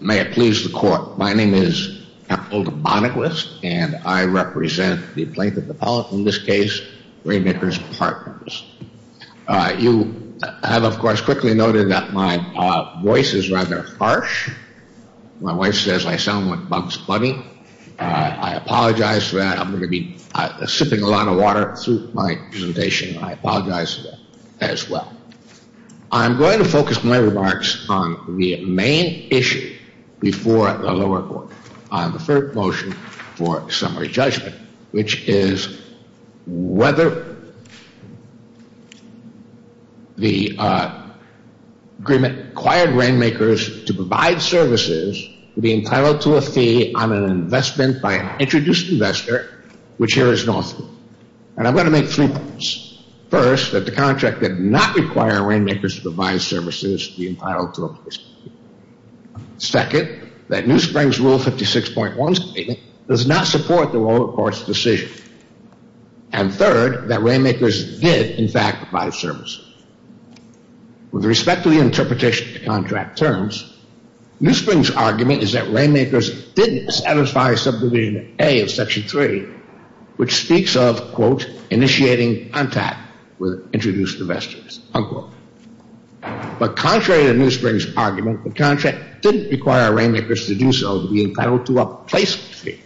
May it please the court, my name is Capaldo Bonnequist and I represent the plaintiff appellate in this case, RainMakers Partners. You have of course quickly noted that my voice is rather harsh. My wife says I sound like Bugs Bunny. I apologize for that. I'm going to be sipping a lot of water through my presentation. I apologize as well. I'm going to focus my before the lower court on the first motion for summary judgment, which is whether the agreement required RainMakers to provide services to be entitled to a fee on an investment by an introduced investor, which here is Northwood. And I'm going to make three points. First, that the contract did not require RainMakers to provide services to be entitled to a fee. Second, that NewSpring's Rule 56.1 statement does not support the lower court's decision. And third, that RainMakers did in fact provide services. With respect to the interpretation of the contract terms, NewSpring's argument is that RainMakers didn't satisfy Subdivision A of Section 3, which speaks of, quote, initiating contact with introduced investors, unquote. But contrary to NewSpring's argument, the contract didn't require RainMakers to do so to be entitled to a placement fee.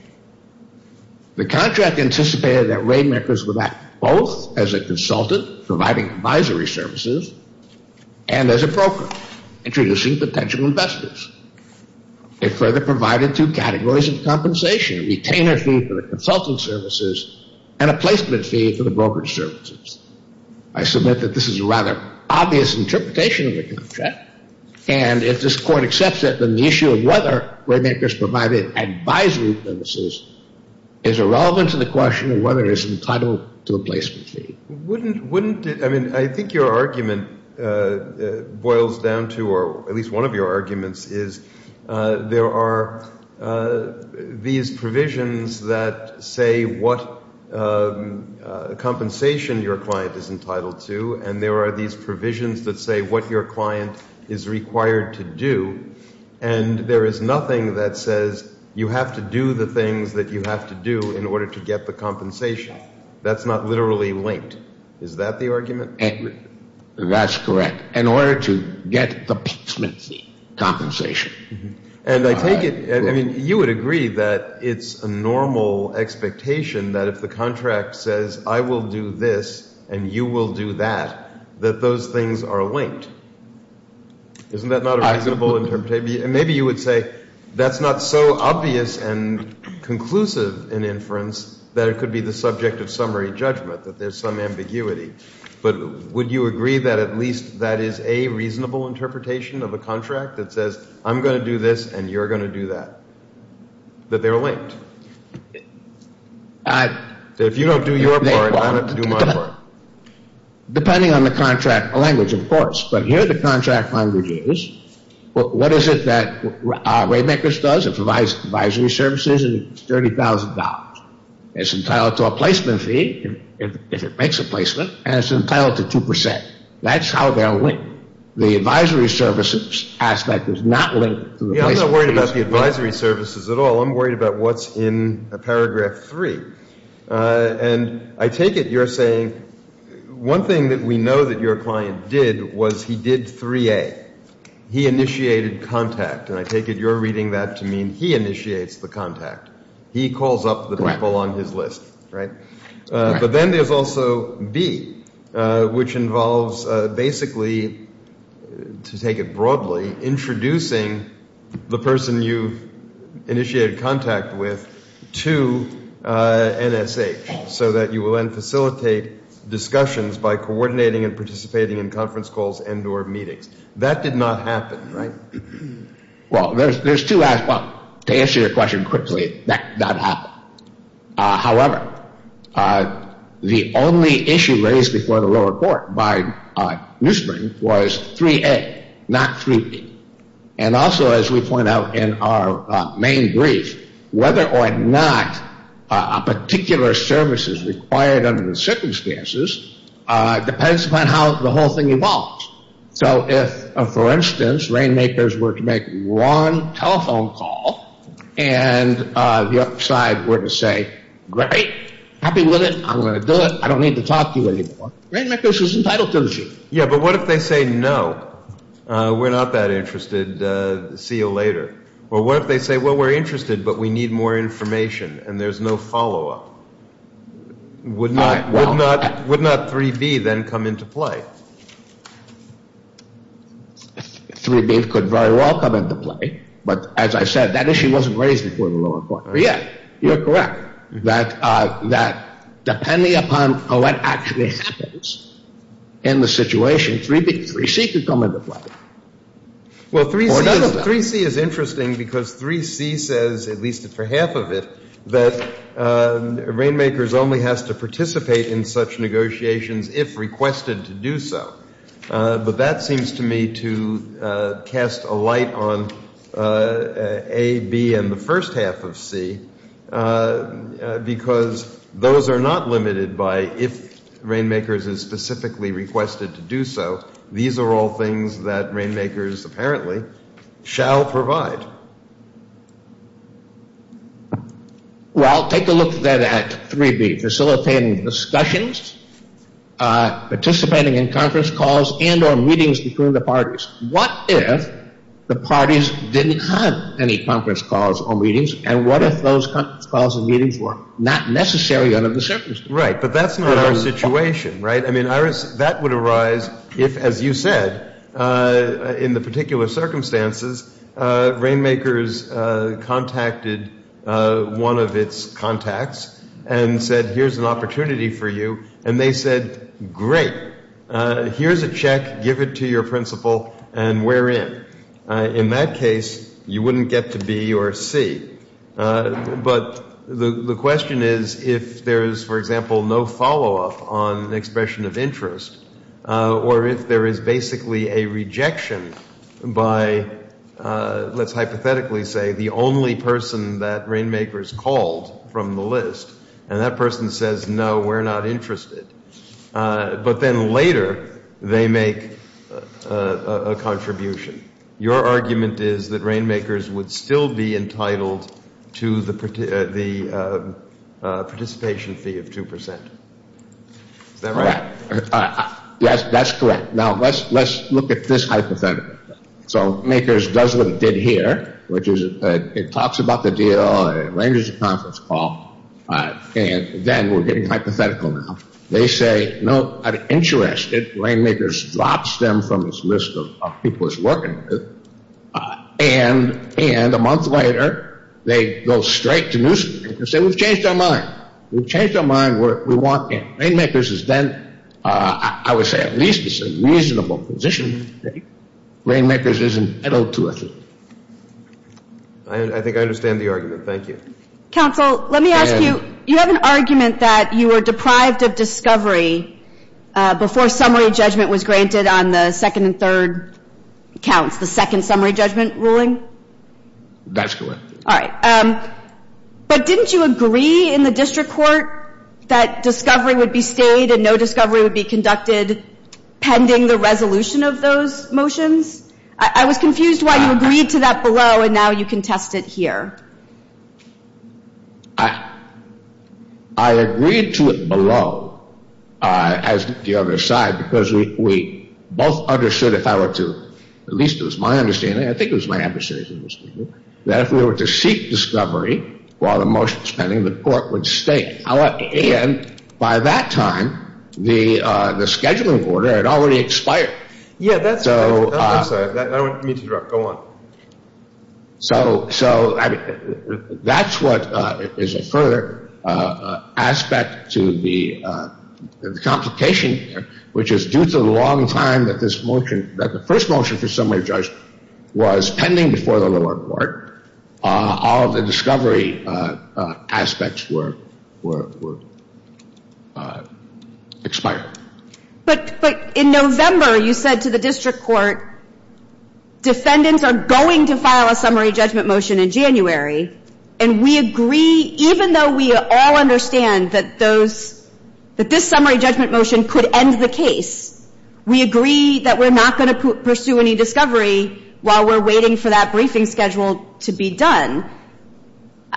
The contract anticipated that RainMakers would act both as a consultant, providing advisory services, and as a broker, introducing potential investors. It further provided two categories of compensation, a retainer fee for the consultant services and a placement fee for the brokerage services. I submit that this is a rather obvious interpretation of the contract. And if this court accepts it, then the issue of whether RainMakers provided advisory services is irrelevant to the question of whether it is entitled to a placement fee. I mean, I think your argument boils down to, or at least one of your arguments, is there are these provisions that say what compensation your client is entitled to, and there are these provisions that say what your client is required to do, and there is nothing that says you have to do the things that you have to do in order to get the compensation. That's not literally linked. Is that the argument? That's correct. In order to get the placement fee compensation. And I take it, I mean, you would agree that it's a normal expectation that if the contract says I will do this and you will do that, that those things are linked. Isn't that not a reasonable interpretation? And maybe you would say that's not so obvious and conclusive an inference that it could be the subject of summary judgment, that there's some ambiguity. But would you agree that at least that is a reasonable interpretation of a contract that says I'm going to do this and you're going to do that, that they're linked? If you don't do your part, I don't have to do my part. Depending on the contract language, of course. But here the contract language is, what is it that RainMakers does, it provides advisory services, it's $30,000. It's entitled to a placement fee if it makes a placement, and it's entitled to 2%. That's how they're linked. The advisory services aspect is not linked. I'm not worried about the advisory services at all. I'm worried about what's in paragraph three. And I take it you're saying one thing that we know that your client did was he did 3A. He initiated contact. And I take it you're reading that to mean he initiates the contact. He calls up the people on his list, right? But then there's also B, which involves basically, to take it broadly, introducing the person you've initiated contact with to NSH so that you will then facilitate discussions by coordinating and participating in conference calls and or meetings. That did not happen, right? Well, there's two aspects. To answer your question quickly, that did not happen. However, the only issue raised before the lower court by Nussbaum was 3A, not 3B. And also, as we point out in our main brief, whether or not a particular service is required under the circumstances depends upon how the whole thing evolves. So if, for instance, Rainmakers were to make one telephone call and the other side were to say, great, happy with it, I'm going to do it, I don't need to talk to you anymore, Rainmakers is entitled to this issue. Yeah, but what if they say, no, we're not that interested, see you later? Or what if they say, well, we're interested, but we need more information and there's no follow-up? Would not 3B then come into play? 3B could very well come into play, but as I said, that issue wasn't raised before the lower court. But yeah, you're correct, that depending upon what actually happens in the situation, 3B, 3C could come into play. Well, 3C is interesting because 3C says, at least for half of it, that Rainmakers only has to participate in such negotiations if requested to do so. But that seems to me to cast a light on A, B, and the first half of C, because those are not limited by if Rainmakers is specifically requested to do so. These are all things that Rainmakers apparently shall provide. Well, take a look then at 3B, facilitating discussions, participating in conference calls and or meetings between the parties. What if the parties didn't have any conference calls or meetings? And what if those conference calls and meetings were not necessary under the circumstances? Right, but that's not our situation, right? I mean, Iris, that would arise if, as you said, in the particular circumstances, Rainmakers contacted one of its contacts and said, here's an opportunity for you. And they said, great, here's a check, give it to your principal, and we're in. In that case, you wouldn't get to B or C. But the question is if there is, for example, no follow-up on the expression of interest, or if there is basically a rejection by, let's hypothetically say, the only person that Rainmakers called from the list, and that person says, no, we're not interested, but then later they make a contribution. Your argument is that Rainmakers would still be entitled to the participation fee of 2%. Is that right? Yes, that's correct. Now, let's look at this hypothetical. So Rainmakers does what it did here, which is it talks about the deal, it arranges a conference call, and then we're getting hypothetical now. They say, no, I'm interested. Rainmakers drops them from its list of people it's working with. And a month later, they go straight to Newsweek and say, we've changed our mind. We've changed our mind. Rainmakers is then, I would say, at least it's a reasonable position. Rainmakers isn't entitled to a fee. I think I understand the argument. Thank you. Counsel, let me ask you, you have an argument that you were deprived of discovery before summary judgment was granted on the second and third counts, the second summary judgment ruling? That's correct. All right. But didn't you agree in the district court that discovery would be stayed and no discovery would be conducted pending the resolution of those motions? I was confused why you agreed to that below, and now you contest it here. I agreed to it below, as the other side, because we both understood if I were to, at least it was my understanding, I think it was my adversary's understanding, that if we were to seek discovery while the motion was pending, the court would stay. And by that time, the scheduling order had already expired. So that's what is a further aspect to the complication here, which is due to the long time that this motion, that the first motion for summary judge was pending before the lower court. All of the discovery aspects were expired. But in November, you said to the district court, defendants are going to file a summary judgment motion in January. And we agree, even though we all understand that this summary judgment motion could end the case, we agree that we're not going to pursue any discovery while we're waiting for that briefing schedule to be done.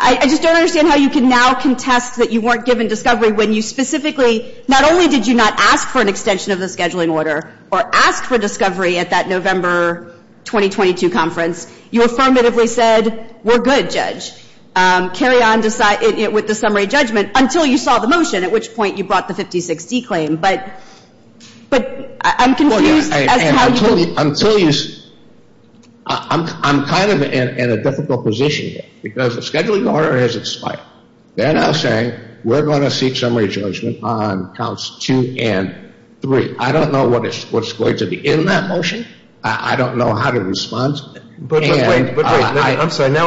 I just don't understand how you can now contest that you weren't given discovery when you specifically, not only did you not ask for an extension of the scheduling order or ask for discovery at that November 2022 conference, you affirmatively said, we're good, Judge. Carry on with the summary judgment until you saw the motion, at which point you brought the 50-60 claim. But I'm confused. Until you see, I'm kind of in a difficult position here because the scheduling order has expired. They're now saying we're going to seek summary judgment on counts two and three. I don't know what's going to be in that motion. I don't know how to respond. Now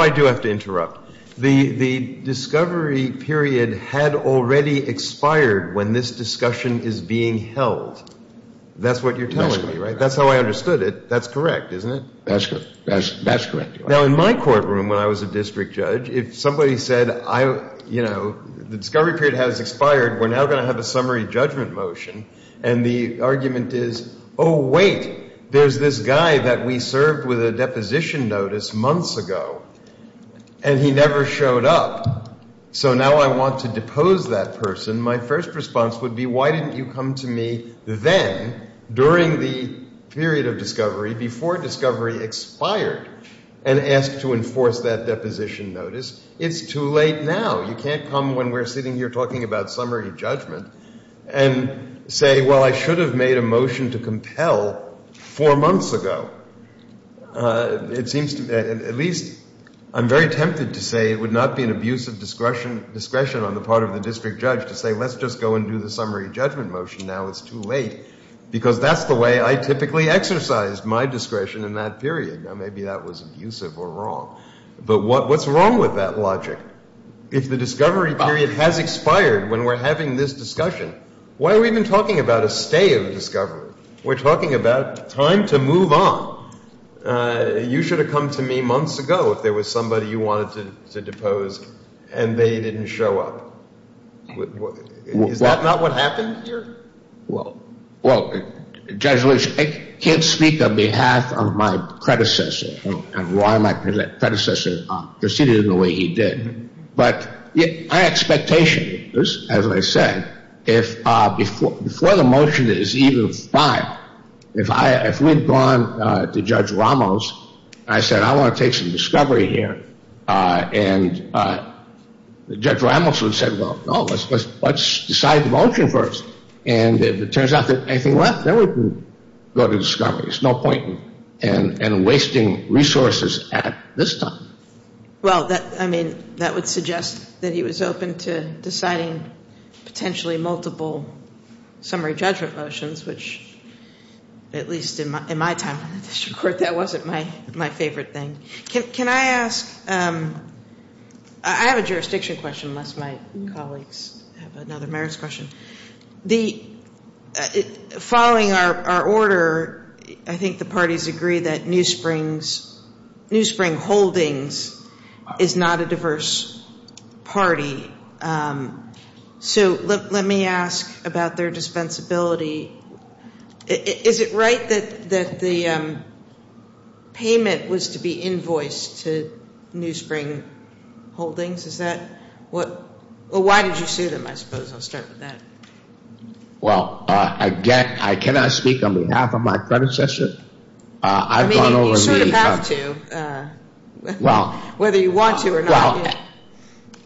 I do have to interrupt. The discovery period had already expired when this discussion is being held. That's what you're telling me, right? That's how I understood it. That's correct, isn't it? That's correct. Now, in my courtroom, when I was a district judge, if somebody said, you know, the discovery period has expired, we're now going to have a summary judgment motion. And the argument is, oh, wait, there's this guy that we served with a deposition notice months ago. And he never showed up. So now I want to depose that person. My first response would be, why didn't you come to me then, during the period of discovery, before discovery expired, and ask to enforce that deposition notice? It's too late now. You can't come when we're sitting here talking about summary judgment and say, well, I should have made a motion to compel four months ago. It seems to me, at least I'm very tempted to say, it would not be an abusive discretion on the part of the district judge to say, let's just go and do the summary judgment motion now. It's too late. Because that's the way I typically exercise my discretion in that period. Now, maybe that was abusive or wrong. But what's wrong with that logic? If the discovery period has expired when we're having this discussion, why are we even talking about a stay of discovery? We're talking about time to move on. You should have come to me months ago, if there was somebody you wanted to depose and they didn't show up. Is that not what happened here? Well, Judge Lewis, I can't speak on behalf of my predecessor and why my predecessor proceeded in the way he did. But my expectation is, as I said, if before the motion is even filed, if we'd gone to Judge Ramos, and I said, I want to take some discovery here, and Judge Ramos would have said, well, no, let's decide the motion first. And if it turns out there's anything left, then we can go to discovery. There's no point in wasting resources at this time. Well, I mean, that would suggest that he was open to deciding potentially multiple summary judgment motions, which at least in my time in the district court, that wasn't my favorite thing. Can I ask, I have a jurisdiction question, unless my colleagues have another merits question. Following our order, I think the parties agree that New Spring Holdings is not a diverse party. So let me ask about their dispensability. Is it right that the payment was to be invoiced to New Spring Holdings? Is that what, well, why did you sue them? I suppose I'll start with that. Well, again, I cannot speak on behalf of my predecessor. I mean, you sort of have to, whether you want to or not.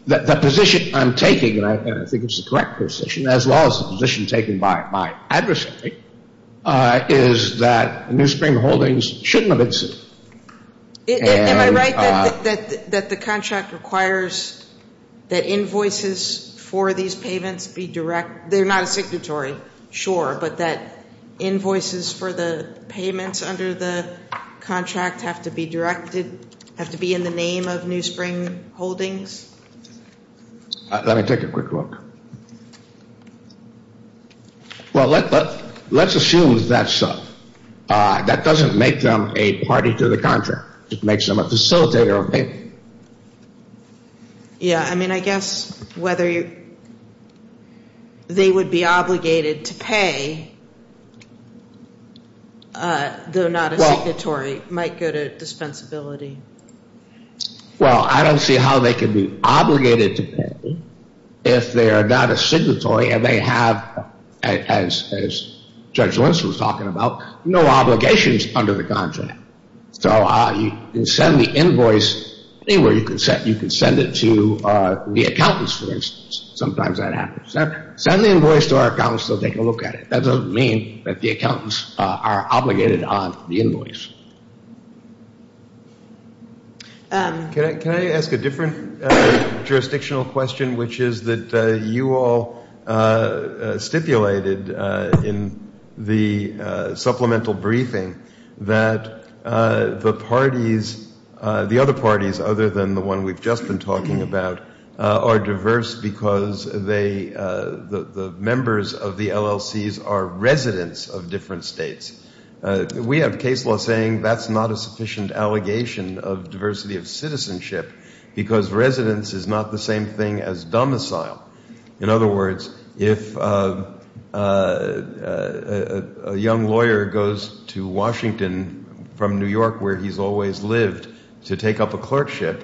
Well, the position I'm taking, and I think it's the correct position, as well as the position taken by my adversary, is that New Spring Holdings shouldn't have been sued. Am I right that the contract requires that invoices for these payments be direct? They're not a signatory, sure, but that invoices for the payments under the contract have to be directed, have to be in the name of New Spring Holdings? Let me take a quick look. Well, let's assume that doesn't make them a party to the contract. It makes them a facilitator of payment. Yeah. I mean, I guess whether they would be obligated to pay, though not a signatory, might go to dispensability. Well, I don't see how they could be obligated to pay if they are not a signatory and they have, as Judge Lentz was talking about, no obligations under the contract. So you can send the invoice anywhere. You can send it to the accountants, for instance. Sometimes that happens. Send the invoice to our accountants, they'll take a look at it. That doesn't mean that the accountants are obligated on the invoice. Can I ask a different jurisdictional question, which is that you all stipulated in the supplemental briefing that the parties, the other parties, other than the one we've just been talking about, are diverse because the members of the LLCs are residents of different states. We have case law saying that's not a sufficient allegation of diversity of citizenship because residence is not the same thing as domicile. In other words, if a young lawyer goes to Washington from New York where he's always lived to take up a clerkship,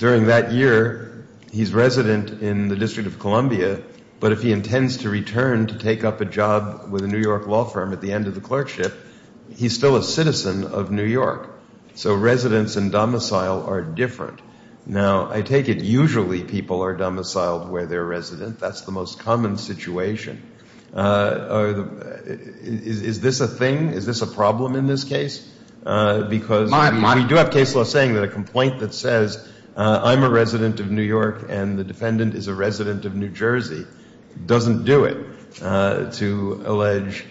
during that year he's resident in the District of Columbia, but if he intends to return to take up a job with a New York law firm at the end of the clerkship, he's still a citizen of New York. So residence and domicile are different. Now, I take it usually people are domiciled where they're resident. That's the most common situation. Is this a thing? Is this a problem in this case? Because we do have case law saying that a complaint that says I'm a resident of New York and the defendant is a resident of New Jersey doesn't do it to allege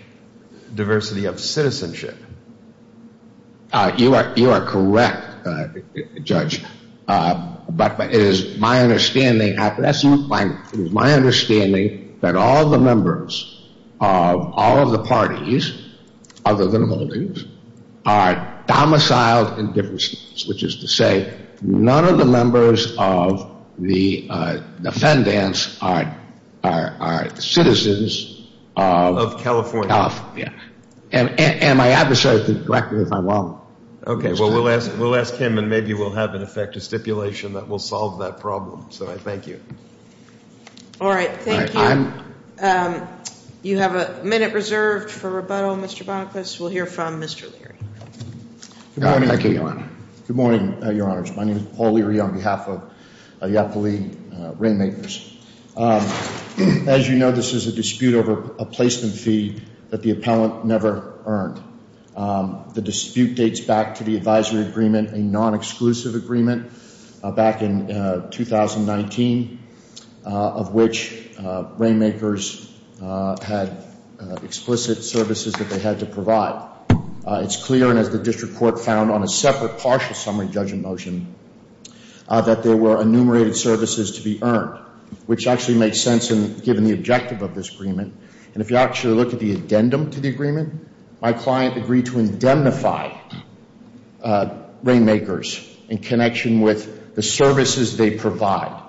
diversity of citizenship. You are correct, Judge. But it is my understanding that all the members of all of the parties, other than holdings, are domiciled in different states, which is to say none of the members of the defendants are citizens of California. And my adversary could correct me if I'm wrong. Okay. Well, we'll ask him and maybe we'll have an effective stipulation that will solve that problem. So I thank you. All right. Thank you. You have a minute reserved for rebuttal, Mr. Bonaclis. We'll hear from Mr. Leary. Good morning, Your Honors. My name is Paul Leary on behalf of Iapoli Rainmakers. As you know, this is a dispute over a placement fee that the appellant never earned. The dispute dates back to the advisory agreement, a non-exclusive agreement back in 2019, of which Rainmakers had explicit services that they had to provide. It's clear, and as the district court found on a separate partial summary judgment motion, that there were enumerated services to be earned, which actually makes sense given the objective of this agreement. And if you actually look at the addendum to the agreement, my client agreed to indemnify Rainmakers in connection with the services they provide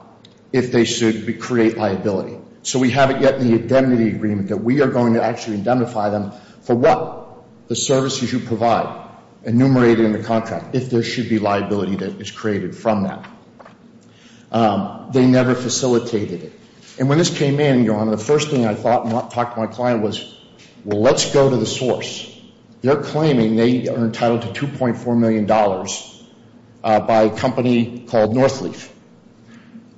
if they should create liability. So we haven't yet in the indemnity agreement that we are going to actually indemnify them for what? The services you provide, enumerated in the contract, if there should be liability that is created from that. They never facilitated it. And when this came in, Your Honor, the first thing I thought when I talked to my client was, well, let's go to the source. They're claiming they are entitled to $2.4 million by a company called Northleaf.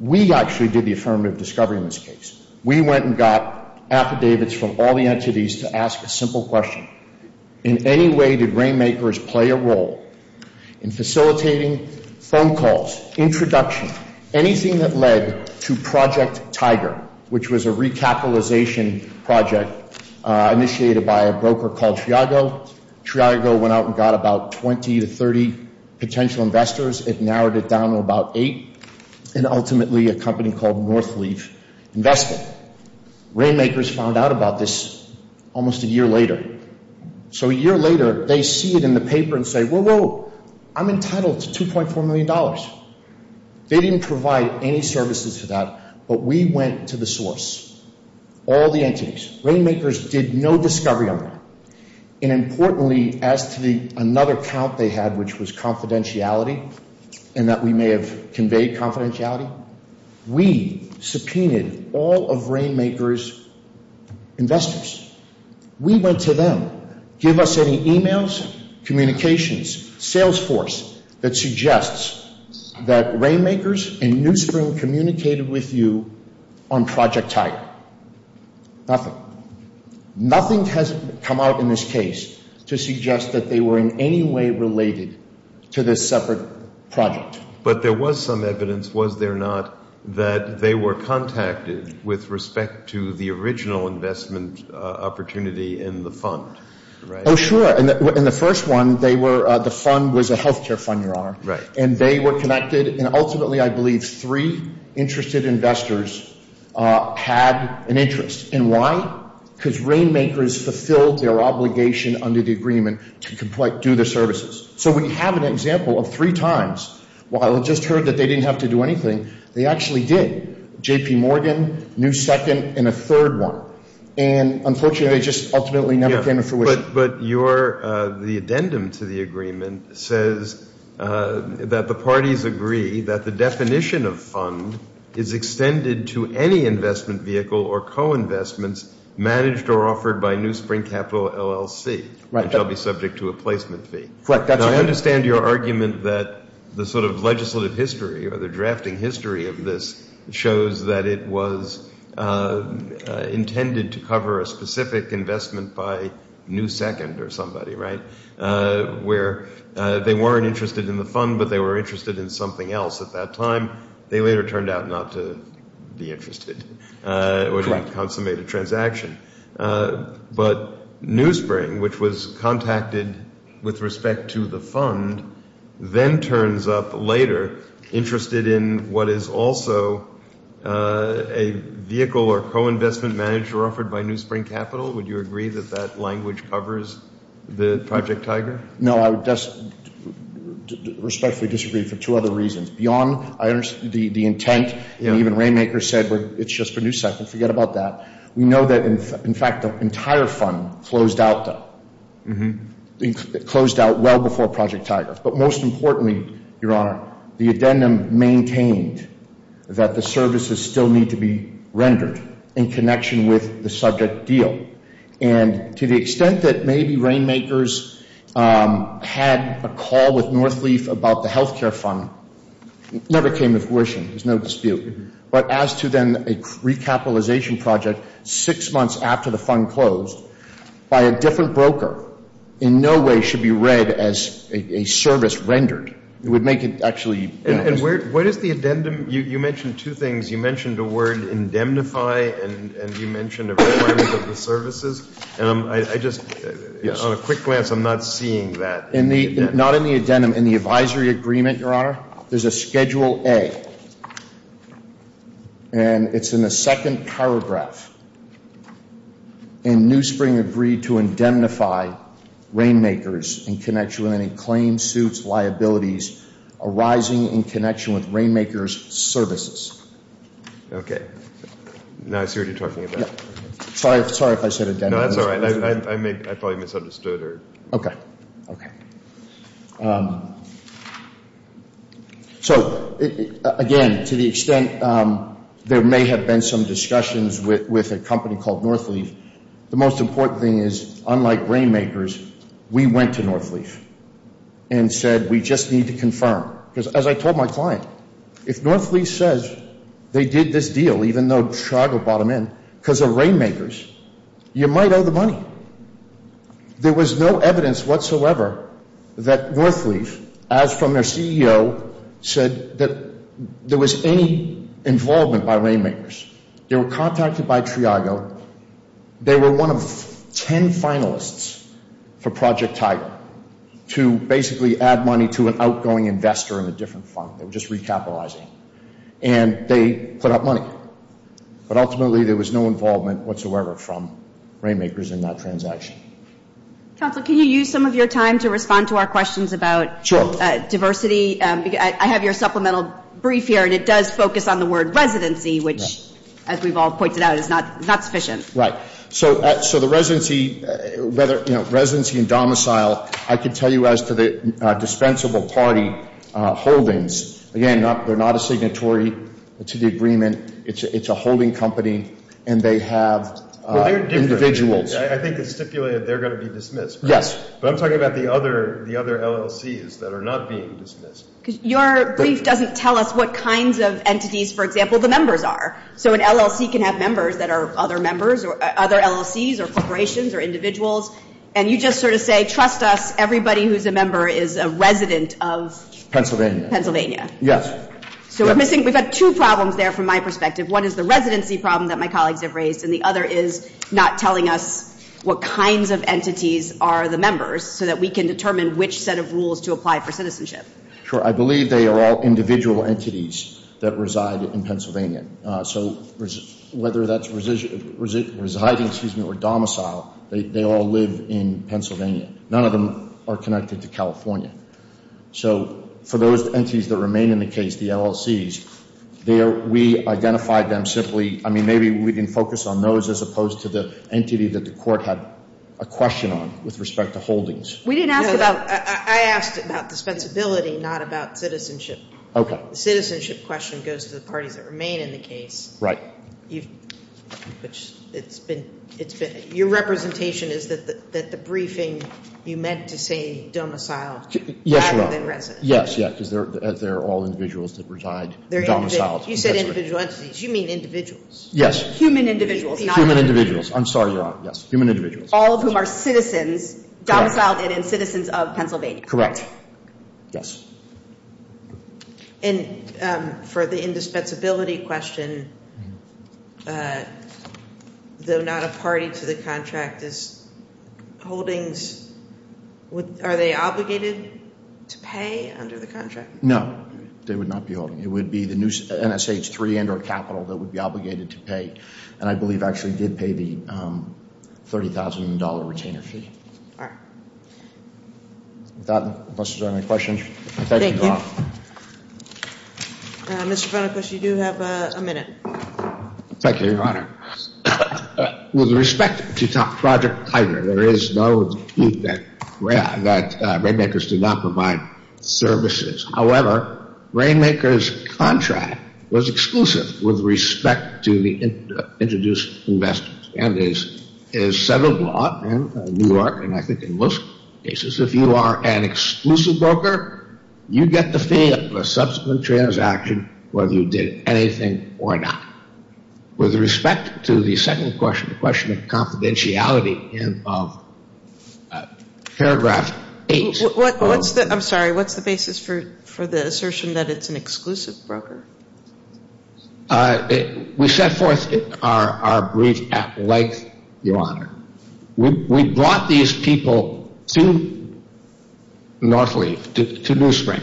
We actually did the affirmative discovery in this case. We went and got affidavits from all the entities to ask a simple question. In any way did Rainmakers play a role in facilitating phone calls, introduction, anything that led to Project Tiger, which was a recapitalization project initiated by a broker called Triago. Triago went out and got about 20 to 30 potential investors. It narrowed it down to about eight and ultimately a company called Northleaf invested. Rainmakers found out about this almost a year later. So a year later, they see it in the paper and say, whoa, whoa, I'm entitled to $2.4 million. They didn't provide any services for that. But we went to the source, all the entities. Rainmakers did no discovery on that. And importantly, as to another count they had, which was confidentiality and that we may have conveyed confidentiality, we subpoenaed all of Rainmakers' investors. We went to them, give us any emails, communications, Salesforce that suggests that Rainmakers and NewSpring communicated with you on Project Tiger. Nothing. Nothing has come out in this case to suggest that they were in any way related to this separate project. But there was some evidence, was there not, that they were contacted with respect to the original investment opportunity in the fund, right? Sure. In the first one, the fund was a health care fund, Your Honor. And they were connected. And ultimately, I believe, three interested investors had an interest. And why? Because Rainmakers fulfilled their obligation under the agreement to do the services. So we have an example of three times, while it just heard that they didn't have to do anything, they actually did. JP Morgan, NewSecond, and a third one. And unfortunately, they just ultimately never came to fruition. But the addendum to the agreement says that the parties agree that the definition of fund is extended to any investment vehicle or co-investments managed or offered by NewSpring Capital, LLC, which will be subject to a placement fee. Correct. I understand your argument that the sort of legislative history or the drafting history of this shows that it was intended to cover a specific investment by NewSecond or somebody, right? Where they weren't interested in the fund, but they were interested in something else. At that time, they later turned out not to be interested, which would consummate a transaction. But NewSpring, which was contacted with respect to the fund, then turns up later interested in what is also a vehicle or co-investment managed or offered by NewSpring Capital. Would you agree that that language covers the Project Tiger? No, I respectfully disagree for two other reasons. Beyond the intent, and even Rainmaker said it's just for NewSecond. Forget about that. We know that, in fact, the entire fund closed out though. It closed out well before Project Tiger. But most importantly, Your Honor, the addendum maintained that the services still need to be rendered in connection with the subject deal. And to the extent that maybe Rainmakers had a call with Northleaf about the health care fund, never came to fruition. There's no dispute. But as to then a recapitalization project six months after the fund closed by a different broker, in no way should be read as a service rendered. It would make it actually. And where does the addendum, you mentioned two things. You mentioned a word indemnify and you mentioned a requirement of the services. And I just, on a quick glance, I'm not seeing that in the addendum. Not in the addendum. In the advisory agreement, Your Honor, there's a Schedule A, and it's in the second paragraph, and Newspring agreed to indemnify Rainmakers in connection with any claims, suits, liabilities arising in connection with Rainmakers' services. Okay. Now I see what you're talking about. Yeah. Sorry if I said indemnify. No, that's all right. I may, I probably misunderstood or. Okay. Okay. So, again, to the extent there may have been some discussions with a company called Northleaf, the most important thing is, unlike Rainmakers, we went to Northleaf and said we just need to confirm. Because as I told my client, if Northleaf says they did this deal, even though Chicago bought them in, because of Rainmakers, you might owe the money. There was no evidence whatsoever that Northleaf, as from their CEO, said that there was any involvement by Rainmakers. They were contacted by Triago. They were one of 10 finalists for Project Tiger to basically add money to an outgoing investor in a different fund. They were just recapitalizing. And they put up money. But ultimately, there was no involvement whatsoever from Rainmakers in that deal. And so, again, I think it's a very important transaction. Counsel, can you use some of your time to respond to our questions about diversity? Sure. I have your supplemental brief here, and it does focus on the word residency, which, as we've all pointed out, is not sufficient. Right. So the residency, whether, you know, residency and domicile, I can tell you as to the dispensable It's a holding company, and they have individuals. I think it's stipulated they're going to be dismissed. Yes. But I'm talking about the other LLCs that are not being dismissed. Your brief doesn't tell us what kinds of entities, for example, the members are. So an LLC can have members that are other members or other LLCs or corporations or individuals. And you just sort of say, trust us, everybody who's a member is a resident of? Pennsylvania. Pennsylvania. Yes. So we're missing, we've had two problems there from my perspective. One is the residency problem that my colleagues have raised, and the other is not telling us what kinds of entities are the members so that we can determine which set of rules to apply for citizenship. Sure. I believe they are all individual entities that reside in Pennsylvania. So whether that's residing, excuse me, or domicile, they all live in Pennsylvania. None of them are connected to California. So for those entities that remain in the case, the LLCs, we identified them simply, I mean, maybe we can focus on those as opposed to the entity that the court had a question on with respect to holdings. We didn't ask about... I asked about dispensability, not about citizenship. Okay. The citizenship question goes to the parties that remain in the case. Right. Your representation is that the briefing, you meant to say domicile. Yes, Your Honor. Yes, because they're all individuals that reside domiciled. You said individual entities. You mean individuals. Yes. Human individuals. Human individuals. I'm sorry, Your Honor. Yes, human individuals. All of whom are citizens, domiciled and in citizens of Pennsylvania. Correct. Yes. And for the indispensability question, though not a party to the contract, is holdings, would... Are they obligated to pay under the contract? No, they would not be holding. It would be the new NSH3 and or capital that would be obligated to pay. And I believe actually did pay the $30,000 retainer fee. All right. With that, unless there's any questions, I thank you, Your Honor. Thank you. Mr. Fennecush, you do have a minute. Thank you, Your Honor. With respect to Project Tiger, there is no dispute that Rainmakers did not provide services. However, Rainmakers' contract was exclusive with respect to the introduced investors and is settled law in New York. And I think in most cases, if you are an exclusive broker, you get the fee of a subsequent transaction, whether you did anything or not. With respect to the second question, the question of confidentiality in of paragraph 8... I'm sorry. What's the basis for the assertion that it's an exclusive broker? We set forth our brief at length, Your Honor. We brought these people to Northleaf, to New Spring,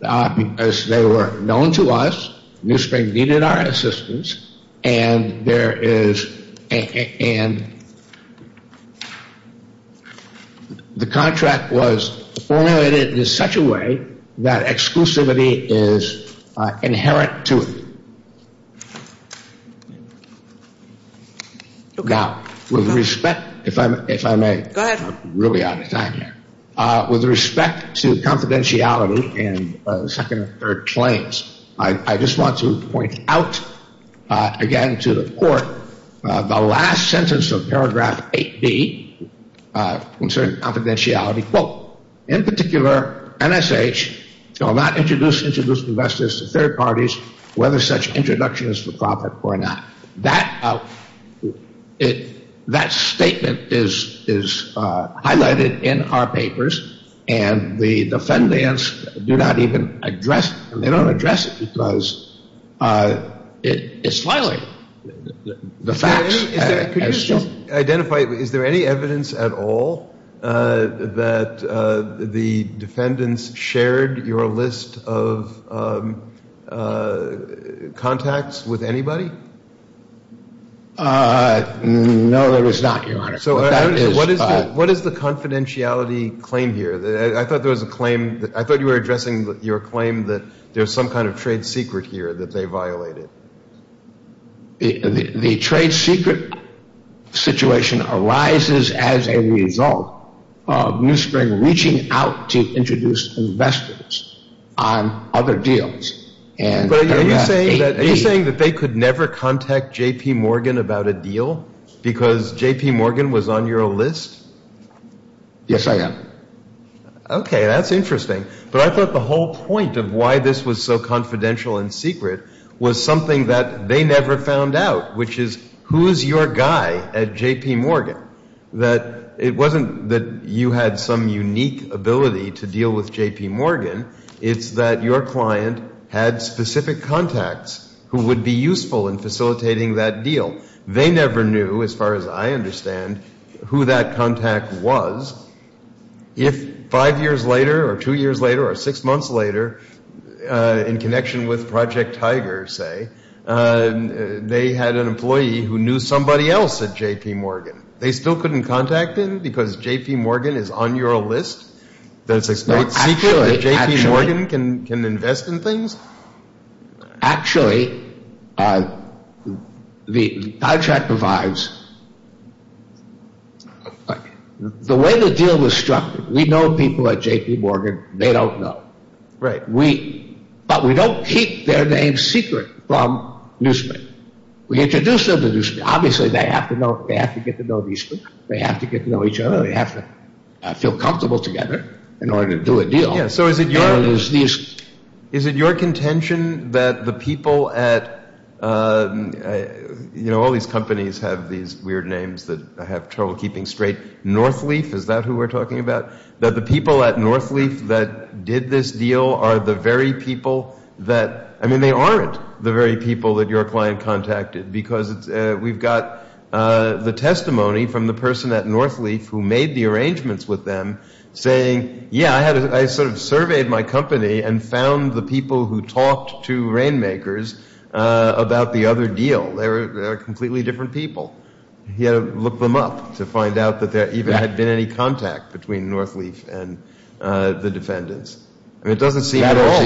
because they were known to us. New Spring needed our assistance. And there is... And the contract was formulated in such a way that exclusivity is inherent to it. Now, with respect, if I may... Go ahead. I'm really out of time here. With respect to confidentiality and second or third claims, I just want to point out again to the court, the last sentence of paragraph 8B concerning confidentiality, quote, in particular, NSH shall not introduce introduced investors to third parties, whether such introduction is for profit or not. That statement is highlighted in our papers, and the defendants do not even address it. They don't address it because it's violated. The facts... Could you just identify, is there any evidence at all that the defendants shared your list of contacts with anybody? Uh, no, there is not, Your Honor. So what is the confidentiality claim here? I thought there was a claim... I thought you were addressing your claim that there's some kind of trade secret here that they violated. The trade secret situation arises as a result of New Spring reaching out to introduce investors on other deals. But are you saying that they could never contact J.P. Morgan about a deal because J.P. Morgan was on your list? Yes, I am. Okay, that's interesting. But I thought the whole point of why this was so confidential and secret was something that they never found out, which is who is your guy at J.P. Morgan? That it wasn't that you had some unique ability to deal with J.P. Morgan. It's that your client had specific contacts who would be useful in facilitating that deal. They never knew, as far as I understand, who that contact was. If five years later, or two years later, or six months later, in connection with Project Tiger, say, they had an employee who knew somebody else at J.P. Morgan. They still couldn't contact him because J.P. Morgan is on your list? That it's a great secret that J.P. Morgan can invest in things? Actually, the contract provides... The way the deal was structured, we know people at J.P. Morgan. They don't know. But we don't keep their names secret from Newsman. We introduce them to Newsman. Obviously, they have to get to know these people. They have to get to know each other. They have to feel comfortable together in order to do a deal. Is it your contention that the people at... All these companies have these weird names that I have trouble keeping straight. Northleaf, is that who we're talking about? That the people at Northleaf that did this deal are the very people that... I mean, they aren't the very people that your client contacted. Because we've got the testimony from the person at Northleaf who made the arrangements with them saying, yeah, I sort of surveyed my company and found the people who talked to Rainmakers about the other deal. They were completely different people. He had to look them up to find out that there even had been any contact between Northleaf and the defendants. And it doesn't seem at all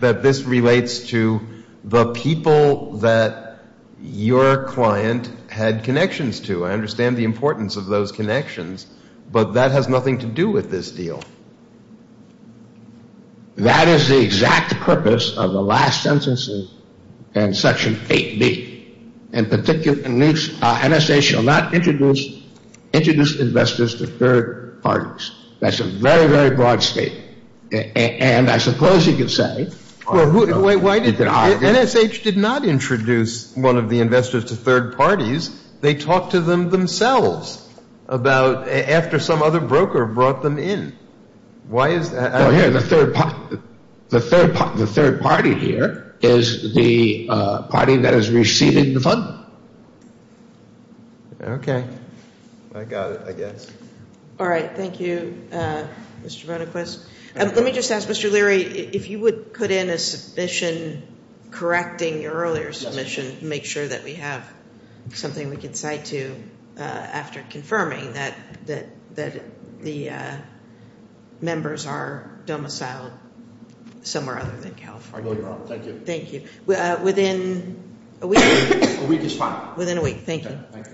that this relates to the people that your client had connections to. I understand the importance of those connections, but that has nothing to do with this deal. That is the exact purpose of the last sentence in section 8B. In particular, NSH shall not introduce investors to third parties. That's a very, very broad statement. And I suppose you could say... NSH did not introduce one of the investors to third parties. They talked to them themselves after some other broker brought them in. Why is that? Well, here, the third party here is the party that has received the fund. Okay. I got it, I guess. All right. Thank you, Mr. Brennequist. Let me just ask, Mr. Leary, if you would put in a submission correcting your earlier submission, make sure that we have something we can cite to after confirming that the members are domiciled somewhere other than California. I will, Your Honor. Thank you. Thank you. Within a week? A week is fine. Within a week. Thank you.